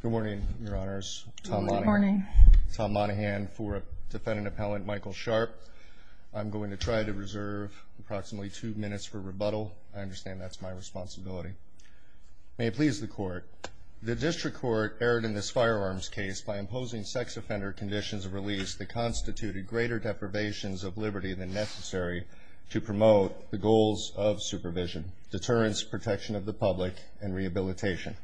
Good morning, your honors. Good morning. Tom Monahan for defendant appellant Michael Sharp. I'm going to try to reserve approximately two minutes for rebuttal. I understand that's my responsibility. May it please the court. The district court erred in this firearms case by imposing sex offender conditions of release that constituted greater deprivations of liberty than necessary to promote the goals of supervision, deterrence, protection of the public and rehabilitation.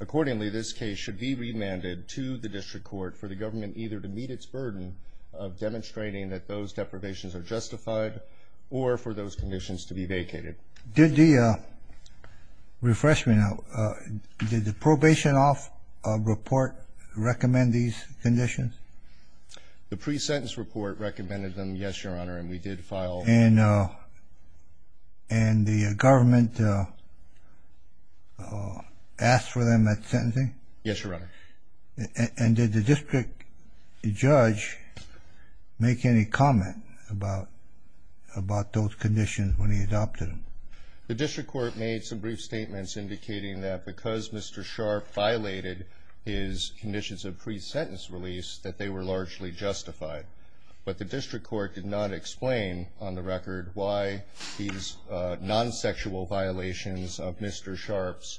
Accordingly, this case should be remanded to the district court for the government either to meet its burden of demonstrating that those deprivations are justified or for those conditions to be vacated. Did the, refresh me now, did the probation off report recommend these conditions? The pre-sentence report recommended them, yes, your honor, and we did file. And the government asked for them at sentencing? Yes, your honor. And did the district judge make any comment about those conditions when he adopted them? The district court made some brief statements indicating that because Mr. Sharp violated his conditions of pre-sentence release that they were largely justified. But the district court did not explain on the record why these non-sexual violations of Mr. Sharp's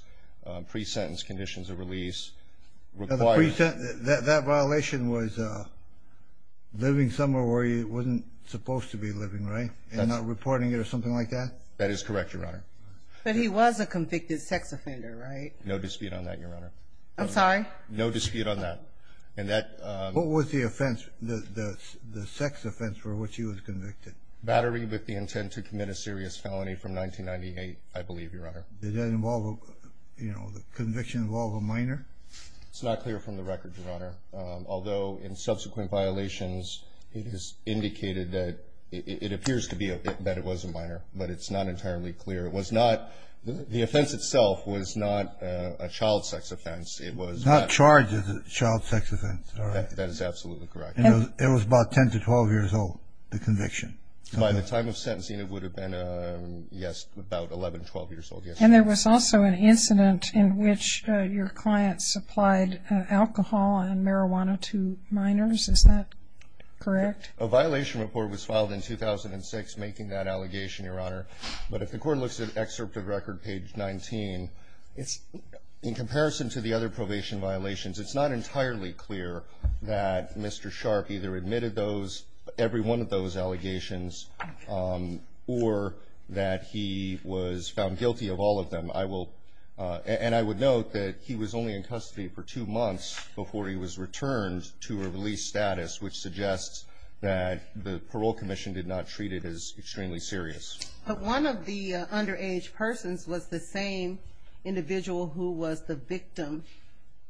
pre-sentence conditions of release required. That violation was living somewhere where he wasn't supposed to be living, right? And not reporting it or something like that? That is correct, your honor. But he was a convicted sex offender, right? No dispute on that, your honor. I'm sorry? No dispute on that. What was the offense, the sex offense for which he was convicted? Battery with the intent to commit a serious felony from 1998, I believe, your honor. Did that involve, you know, the conviction involved a minor? It's not clear from the record, your honor. Although in subsequent violations it is indicated that it appears to be that it was a minor, but it's not entirely clear. It was not, the offense itself was not a child sex offense. It was not charged as a child sex offense. That is absolutely correct. It was about 10 to 12 years old, the conviction. By the time of sentencing it would have been, yes, about 11, 12 years old. And there was also an incident in which your client supplied alcohol and marijuana to minors. Is that correct? A violation report was filed in 2006 making that allegation, your honor. But if the court looks at excerpt of record page 19, in comparison to the other probation violations, it's not entirely clear that Mr. Sharp either admitted those, every one of those allegations, or that he was found guilty of all of them. I will, and I would note that he was only in custody for two months before he was returned to a release status, which suggests that the parole commission did not treat it as extremely serious. But one of the underage persons was the same individual who was the victim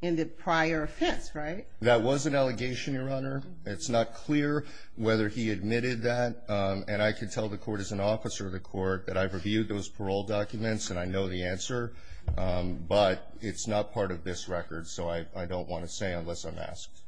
in the prior offense, right? That was an allegation, your honor. It's not clear whether he admitted that. And I can tell the court as an officer of the court that I've reviewed those parole documents, and I know the answer. But it's not part of this record, so I don't want to say unless I'm asked.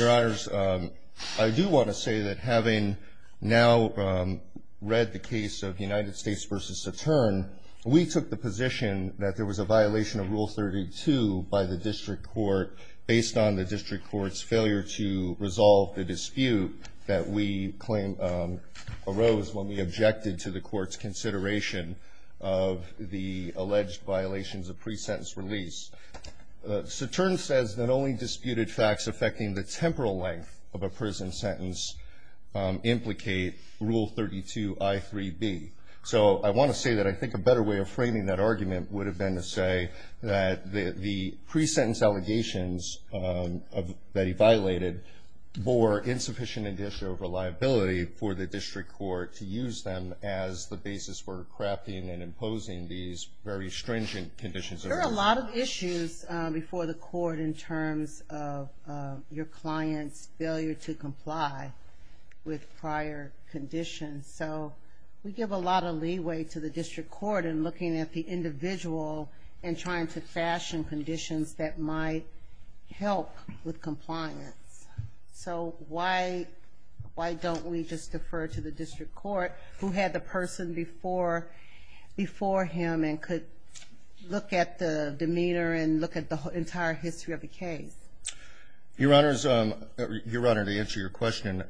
Your honors, I do want to say that having now read the case of United States v. Saturn, we took the position that there was a violation of Rule 32 by the district court based on the district court's failure to resolve the dispute that we claim arose when we objected to the court's consideration of the alleged violations of pre-sentence release. Saturn says that only disputed facts affecting the temporal length of a prison sentence implicate Rule 32 I.3.B. So I want to say that I think a better way of framing that argument would have been to say that the pre-sentence allegations that he violated bore insufficient indicial reliability for the district court to use them as the basis for crafting and imposing these very stringent conditions. There are a lot of issues before the court in terms of your client's failure to comply with prior conditions. So we give a lot of leeway to the district court in looking at the individual and trying to fashion conditions that might help with compliance. So why don't we just defer to the district court who had the person before him and could look at the demeanor and look at the entire history of the case? Your Honor, to answer your question,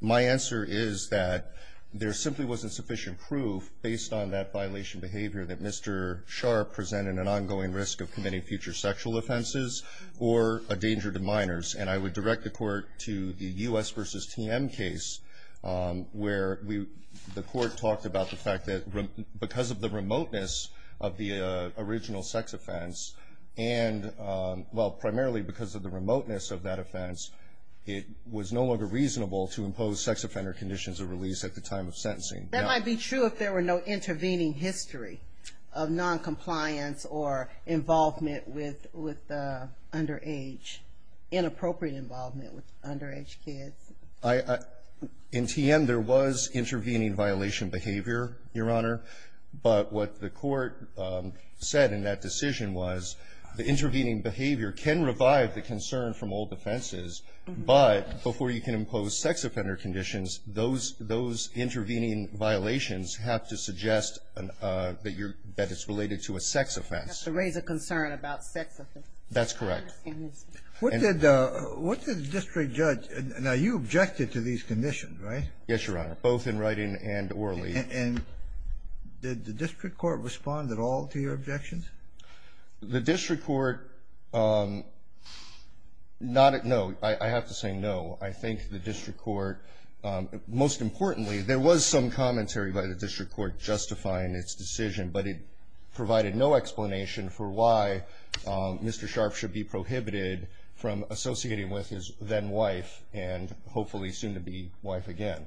my answer is that there simply wasn't sufficient proof based on that violation behavior that Mr. Sharpe presented an ongoing risk of committing future sexual offenses or a danger to minors. And I would direct the court to the U.S. v. TM case where the court talked about the fact that because of the remoteness of the original sex offense and, well, primarily because of the remoteness of that offense, it was no longer reasonable to impose sex offender conditions of release at the time of sentencing. That might be true if there were no intervening history of noncompliance or involvement with the underage, inappropriate involvement with underage kids. In TM, there was intervening violation behavior, Your Honor. But what the court said in that decision was the intervening behavior can revive the concern from old offenses, but before you can impose sex offender conditions, those intervening violations have to suggest that it's related to a sex offense. It has to raise a concern about sex offense. That's correct. What did the district judge – now, you objected to these conditions, right? Yes, Your Honor, both in writing and orally. And did the district court respond at all to your objections? The district court – not at no. I have to say no. I think the district court – most importantly, there was some commentary by the district court justifying its decision, but it provided no explanation for why Mr. Sharp should be prohibited from associating with his then-wife and hopefully soon-to-be-wife again.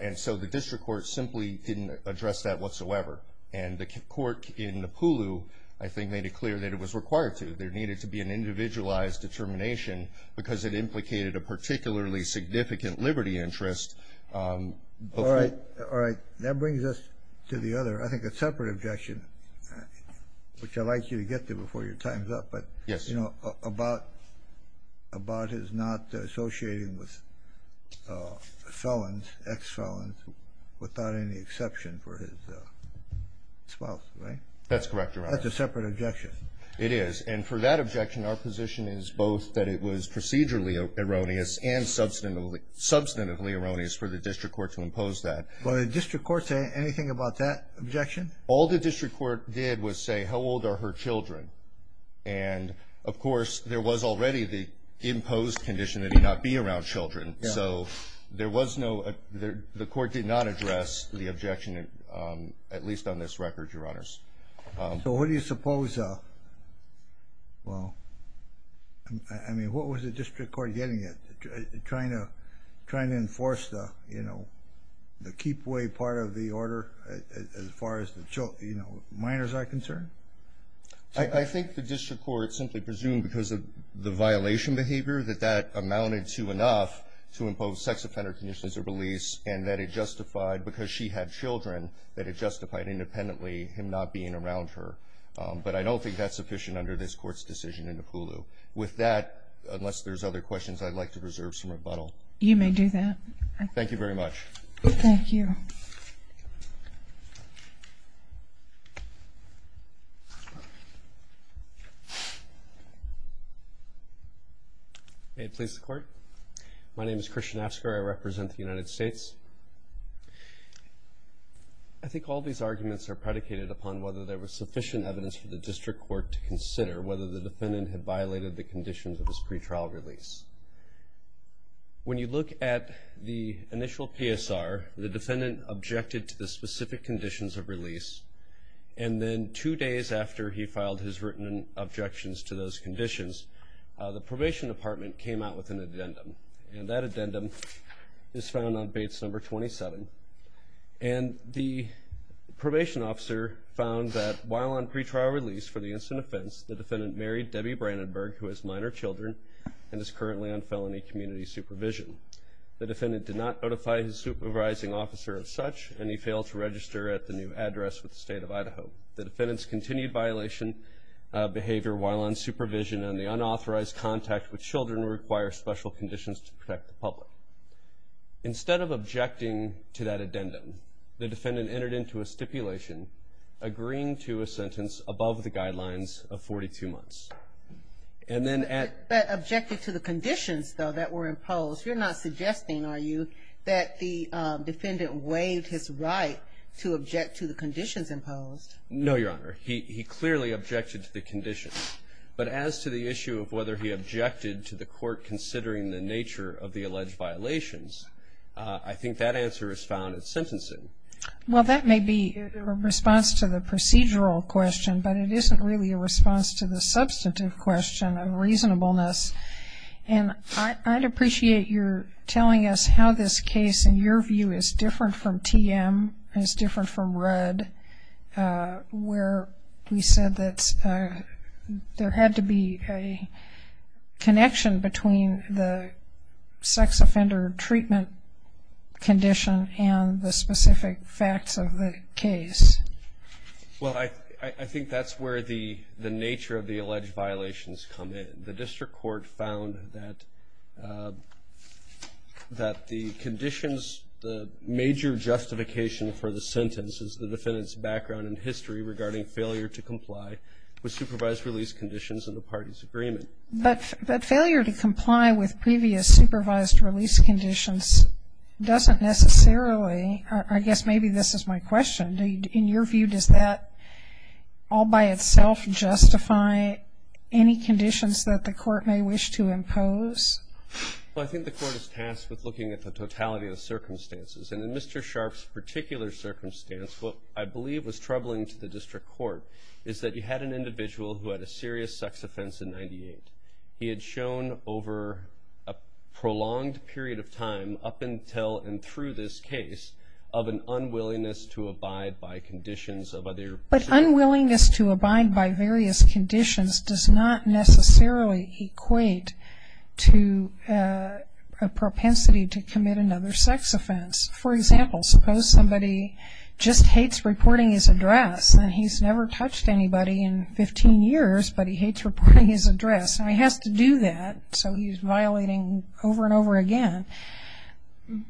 And so the district court simply didn't address that whatsoever. And the court in Apulu, I think, made it clear that it was required to. There needed to be an individualized determination because it implicated a particularly significant liberty interest. All right. All right. That brings us to the other – I think a separate objection, which I'd like you to get to before your time's up. Yes, Your Honor. But, you know, Abbott is not associating with felons, ex-felons, without any exception for his spouse, right? That's correct, Your Honor. That's a separate objection. It is. And for that objection, our position is both that it was procedurally erroneous and substantively erroneous for the district court to impose that. Well, did the district court say anything about that objection? All the district court did was say, how old are her children? And, of course, there was already the imposed condition that he not be around children. So there was no – the court did not address the objection, at least on this record, Your Honors. So what do you suppose – well, I mean, what was the district court getting at, trying to enforce the, you know, the keep-away part of the order as far as, you know, minors are concerned? I think the district court simply presumed because of the violation behavior that that amounted to enough to impose sex offender conditions of release and that it justified because she had children that it justified independently him not being around her. But I don't think that's sufficient under this Court's decision in Apulu. With that, unless there's other questions, I'd like to reserve some rebuttal. You may do that. Thank you very much. Thank you. May it please the Court? My name is Christian Asker. I represent the United States. I think all these arguments are predicated upon whether there was sufficient evidence for the district court to consider whether the defendant had violated the conditions of his pretrial release. When you look at the initial PSR, the defendant objected to the specific conditions of release, and then two days after he filed his written objections to those conditions, the probation department came out with an addendum. And that addendum is found on Bates No. 27. And the probation officer found that while on pretrial release for the instant offense, the defendant married Debbie Brandenburg, who has minor children, and is currently on felony community supervision. The defendant did not notify his supervising officer of such, and he failed to register at the new address with the State of Idaho. The defendant's continued violation of behavior while on supervision and the unauthorized contact with children require special conditions to protect the public. Instead of objecting to that addendum, the defendant entered into a stipulation, agreeing to a sentence above the guidelines of 42 months. But objecting to the conditions, though, that were imposed, you're not suggesting, are you, that the defendant waived his right to object to the conditions imposed? No, Your Honor. He clearly objected to the conditions. But as to the issue of whether he objected to the court considering the nature of the alleged violations, I think that answer is found in sentencing. Well, that may be a response to the procedural question, but it isn't really a response to the substantive question of reasonableness. And I'd appreciate your telling us how this case, in your view, is different from TM, is different from Rudd, where we said that there had to be a connection between the sex offender treatment condition and the specific facts of the case. Well, I think that's where the nature of the alleged violations come in. The district court found that the conditions, the major justification for the sentence is the defendant's background and history regarding failure to comply with supervised release conditions in the party's agreement. But failure to comply with previous supervised release conditions doesn't necessarily, I guess maybe this is my question, in your view, does that all by itself justify any conditions that the court may wish to impose? Well, I think the court is tasked with looking at the totality of the circumstances. And in Mr. Sharff's particular circumstance, what I believe was troubling to the district court is that you had an individual who had a serious sex offense in 98. He had shown over a prolonged period of time up until and through this case of an unwillingness to abide by conditions of other... But unwillingness to abide by various conditions does not necessarily equate to a propensity to commit another sex offense. For example, suppose somebody just hates reporting his address, and he's never touched anybody in 15 years, but he hates reporting his address. And he has to do that, so he's violating over and over again.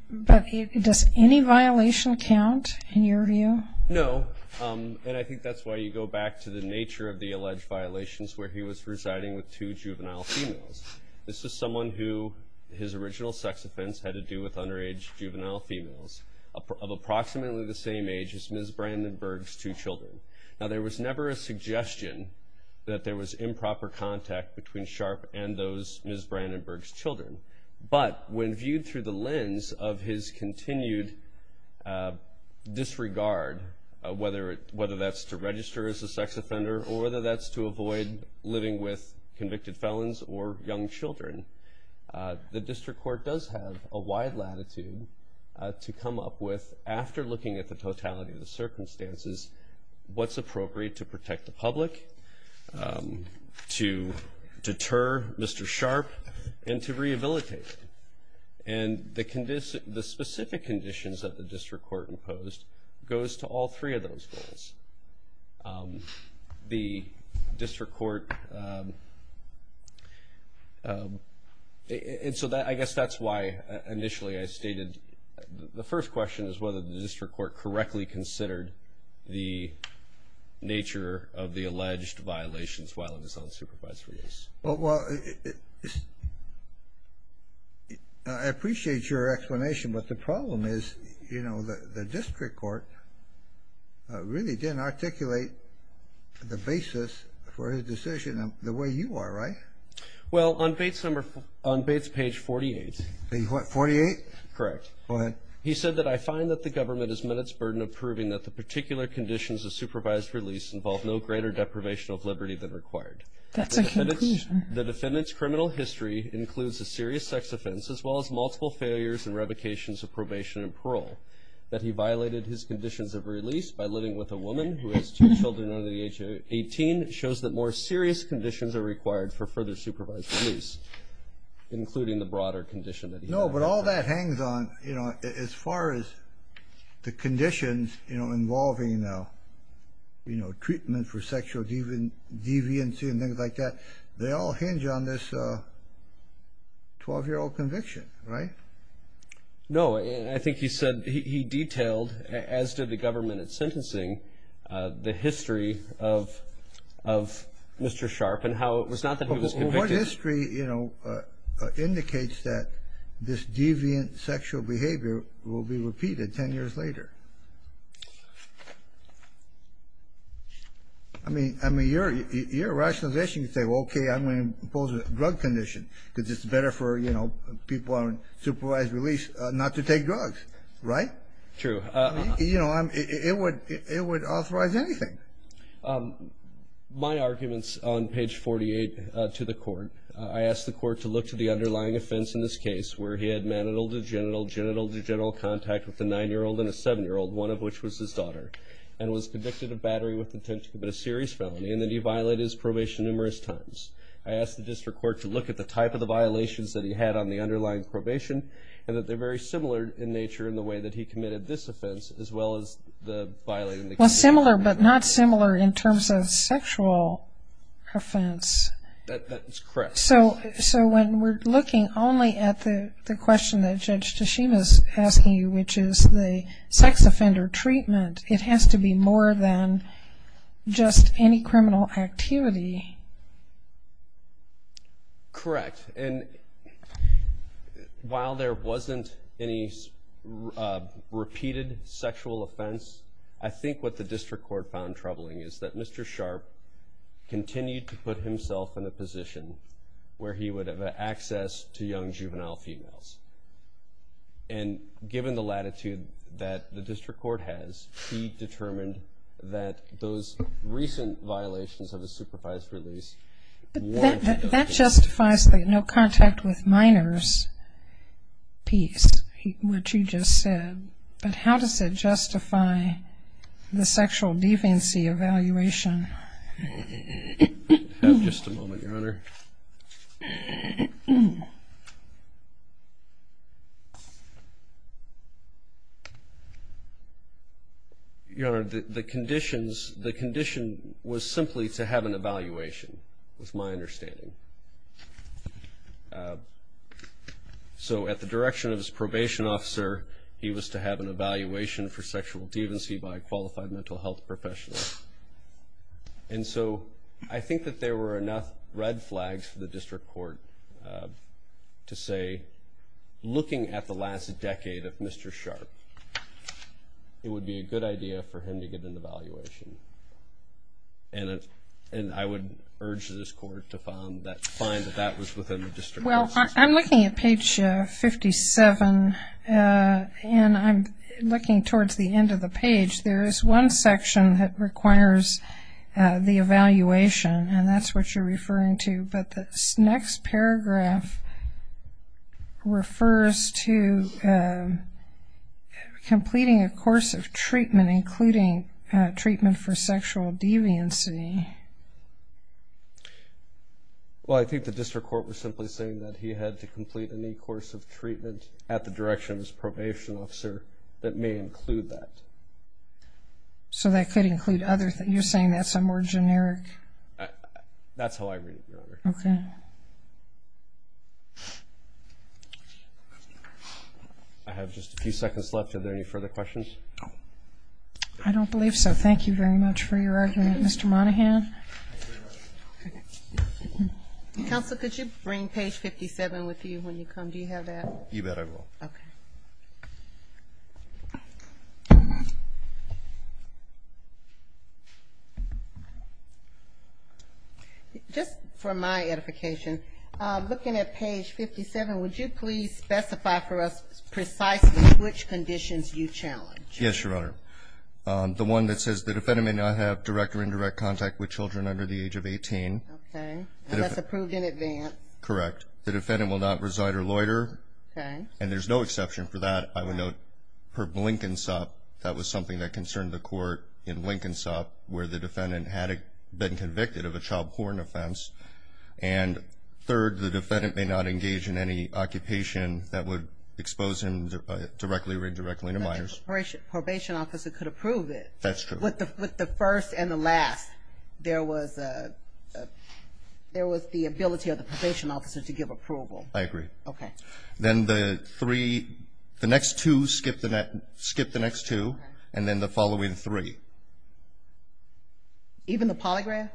But does any violation count in your view? No. And I think that's why you go back to the nature of the alleged violations where he was residing with two juvenile females. This is someone who his original sex offense had to do with underage juvenile females of approximately the same age as Ms. Brandenburg's two children. Now, there was never a suggestion that there was improper contact between Sharff and those Ms. Brandenburg's children. But when viewed through the lens of his continued disregard, whether that's to register as a sex offender or whether that's to avoid living with convicted felons or young children, the district court does have a wide latitude to come up with, after looking at the totality of the circumstances, what's appropriate to protect the public, to deter Mr. Sharff, and to rehabilitate him. And the specific conditions that the district court imposed goes to all three of those things. The district court – and so I guess that's why initially I stated – the first question is whether the district court correctly considered the nature of the alleged violations while in his unsupervised release. Well, I appreciate your explanation, but the problem is the district court really didn't articulate the basis for his decision the way you are, right? Well, on Bates page 48. 48? Correct. Go ahead. He said that I find that the government has met its burden of proving that the particular conditions of supervised release involve no greater deprivation of liberty than required. That's a conclusion. The defendant's criminal history includes a serious sex offense, as well as multiple failures and revocations of probation and parole. That he violated his conditions of release by living with a woman who has two children under the age of 18 shows that more serious conditions are required for further supervised release, including the broader condition that he had. No, but all that hangs on, you know, as far as the conditions, you know, treatment for sexual deviancy and things like that, they all hinge on this 12-year-old conviction, right? No, I think he said he detailed, as did the government at sentencing, the history of Mr. Sharp and how it was not that he was convicted. But what history, you know, indicates that this deviant sexual behavior will be repeated 10 years later? I mean, you're rationalizing to say, well, okay, I'm going to impose a drug condition because it's better for, you know, people on supervised release not to take drugs, right? True. You know, it would authorize anything. My arguments on page 48 to the court, I asked the court to look to the underlying offense in this case where he had manital to genital, genital to genital contact with a 9-year-old and a 7-year-old, one of which was his daughter, and was convicted of battery with intent to commit a serious felony, and then he violated his probation numerous times. I asked the district court to look at the type of the violations that he had on the underlying probation and that they're very similar in nature in the way that he committed this offense as well as the violating the condition. Well, similar but not similar in terms of sexual offense. That is correct. So when we're looking only at the question that Judge Tashima is asking you, which is the sex offender treatment, it has to be more than just any criminal activity. Correct. And while there wasn't any repeated sexual offense, I think what the district court found troubling is that Mr. Sharp continued to put himself in a position where he would have access to young juvenile females. And given the latitude that the district court has, he determined that those recent violations of the supervised release weren't But that justifies the no contact with minors piece, which he just said. But how does it justify the sexual deviancy evaluation? Just a moment, Your Honor. Your Honor, the conditions, the condition was simply to have an evaluation, was my understanding. So at the direction of his probation officer, he was to have an evaluation for sexual deviancy by a qualified mental health professional. And so I think that there were enough red flags for the district court to say, looking at the last decade of Mr. Sharp, it would be a good idea for him to get an evaluation. And I would urge this court to find that that was within the district. Well, I'm looking at page 57, and I'm looking towards the end of the page. There is one section that requires the evaluation, and that's what you're referring to. But this next paragraph refers to completing a course of treatment, including treatment for sexual deviancy. Well, I think the district court was simply saying that he had to complete any course of treatment at the direction of his probation officer that may include that. So that could include other things. You're saying that's a more generic? That's how I read it, Your Honor. Okay. I have just a few seconds left. Are there any further questions? I don't believe so. Thank you very much for your argument, Mr. Monahan. Counsel, could you bring page 57 with you when you come? Do you have that? You bet I will. Okay. Just for my edification, looking at page 57, would you please specify for us precisely which conditions you challenge? Yes, Your Honor. The one that says the defendant may not have direct or indirect contact with children under the age of 18. Okay. That's approved in advance. Correct. The defendant will not reside or loiter. Okay. And there's no exception for that. I would note, per Blinkensop, that was something that concerned the court in Blinkensop, where the defendant had been convicted of a child porn offense. And third, the defendant may not engage in any occupation that would expose him directly or indirectly to minors. But the probation officer could approve it. That's true. With the first and the last, there was the ability of the probation officer to give approval. I agree. Okay. Then the next two, skip the next two, and then the following three. Even the polygraph?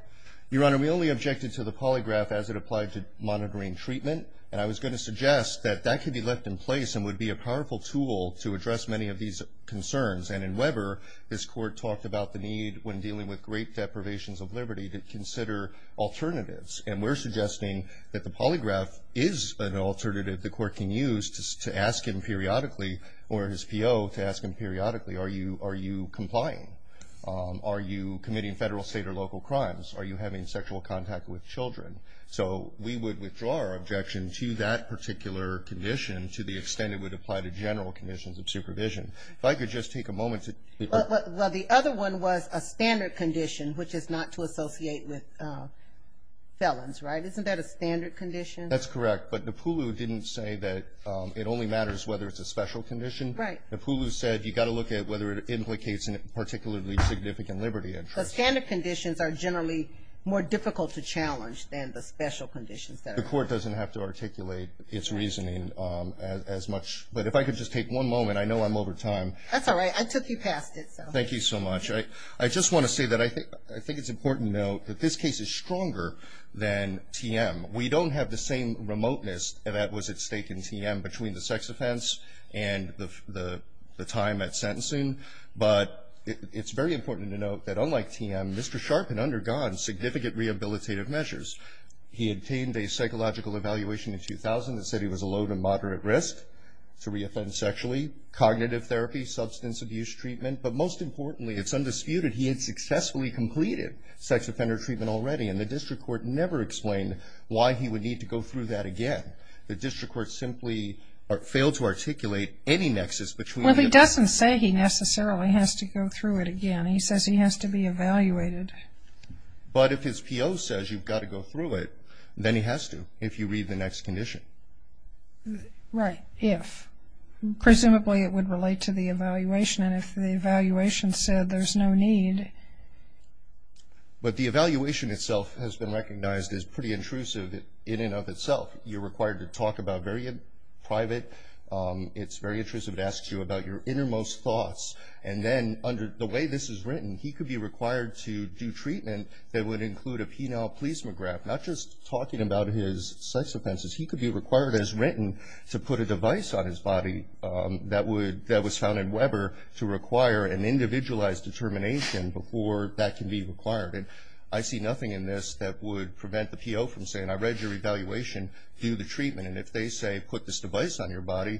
Your Honor, we only objected to the polygraph as it applied to monitoring treatment. And I was going to suggest that that could be left in place and would be a powerful tool to address many of these concerns. And in Weber, this court talked about the need when dealing with great deprivations of liberty to consider alternatives. And we're suggesting that the polygraph is an alternative the court can use to ask him periodically or his PO to ask him periodically, are you complying? Are you committing federal, state, or local crimes? Are you having sexual contact with children? So we would withdraw our objection to that particular condition to the extent it would apply to general conditions of supervision. If I could just take a moment to. Well, the other one was a standard condition, which is not to associate with felons, right? Isn't that a standard condition? That's correct. But Napulu didn't say that it only matters whether it's a special condition. Right. Napulu said you've got to look at whether it implicates in a particularly significant liberty interest. But standard conditions are generally more difficult to challenge than the special conditions that are. The court doesn't have to articulate its reasoning as much. But if I could just take one moment. I know I'm over time. That's all right. I took you past it, so. Thank you so much. I just want to say that I think it's important to note that this case is stronger than TM. We don't have the same remoteness that was at stake in TM between the sex offense and the time at sentencing. But it's very important to note that unlike TM, Mr. Sharpen undergone significant rehabilitative measures. He obtained a psychological evaluation in 2000 that said he was a low to moderate risk to reoffend sexually, cognitive therapy, substance abuse treatment. But most importantly, it's undisputed, he had successfully completed sex offender treatment already. And the district court never explained why he would need to go through that again. The district court simply failed to articulate any nexus between the two. Well, he doesn't say he necessarily has to go through it again. He says he has to be evaluated. But if his PO says you've got to go through it, then he has to if you read the next condition. Right. If. Presumably it would relate to the evaluation. And if the evaluation said there's no need. But the evaluation itself has been recognized as pretty intrusive in and of itself. You're required to talk about very private. It's very intrusive. It asks you about your innermost thoughts. And then under the way this is written, he could be required to do treatment that would include a penile plesiograph, not just talking about his sex offenses. He could be required as written to put a device on his body that was found in Weber to require an individualized determination before that can be required. And I see nothing in this that would prevent the PO from saying I read your evaluation. Do the treatment. And if they say put this device on your body,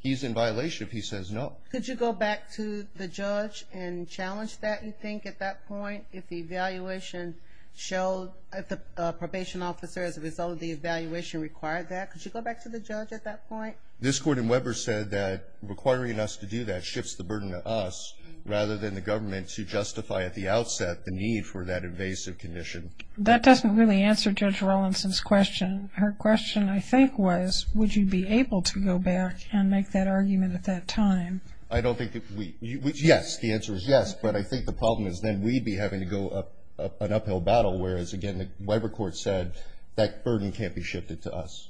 he's in violation if he says no. Could you go back to the judge and challenge that you think at that point if the evaluation showed if the probation officer as a result of the evaluation required that? Could you go back to the judge at that point? This court in Weber said that requiring us to do that shifts the burden to us rather than the government to justify at the outset the need for that invasive condition. That doesn't really answer Judge Rawlinson's question. Her question, I think, was would you be able to go back and make that argument at that time? I don't think we would. Yes, the answer is yes. But I think the problem is then we'd be having to go up an uphill battle, whereas, again, the Weber court said that burden can't be shifted to us.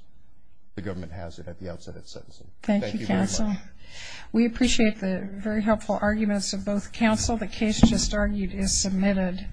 The government has it at the outset of its sentencing. Thank you, counsel. We appreciate the very helpful arguments of both counsel. The case just argued is submitted.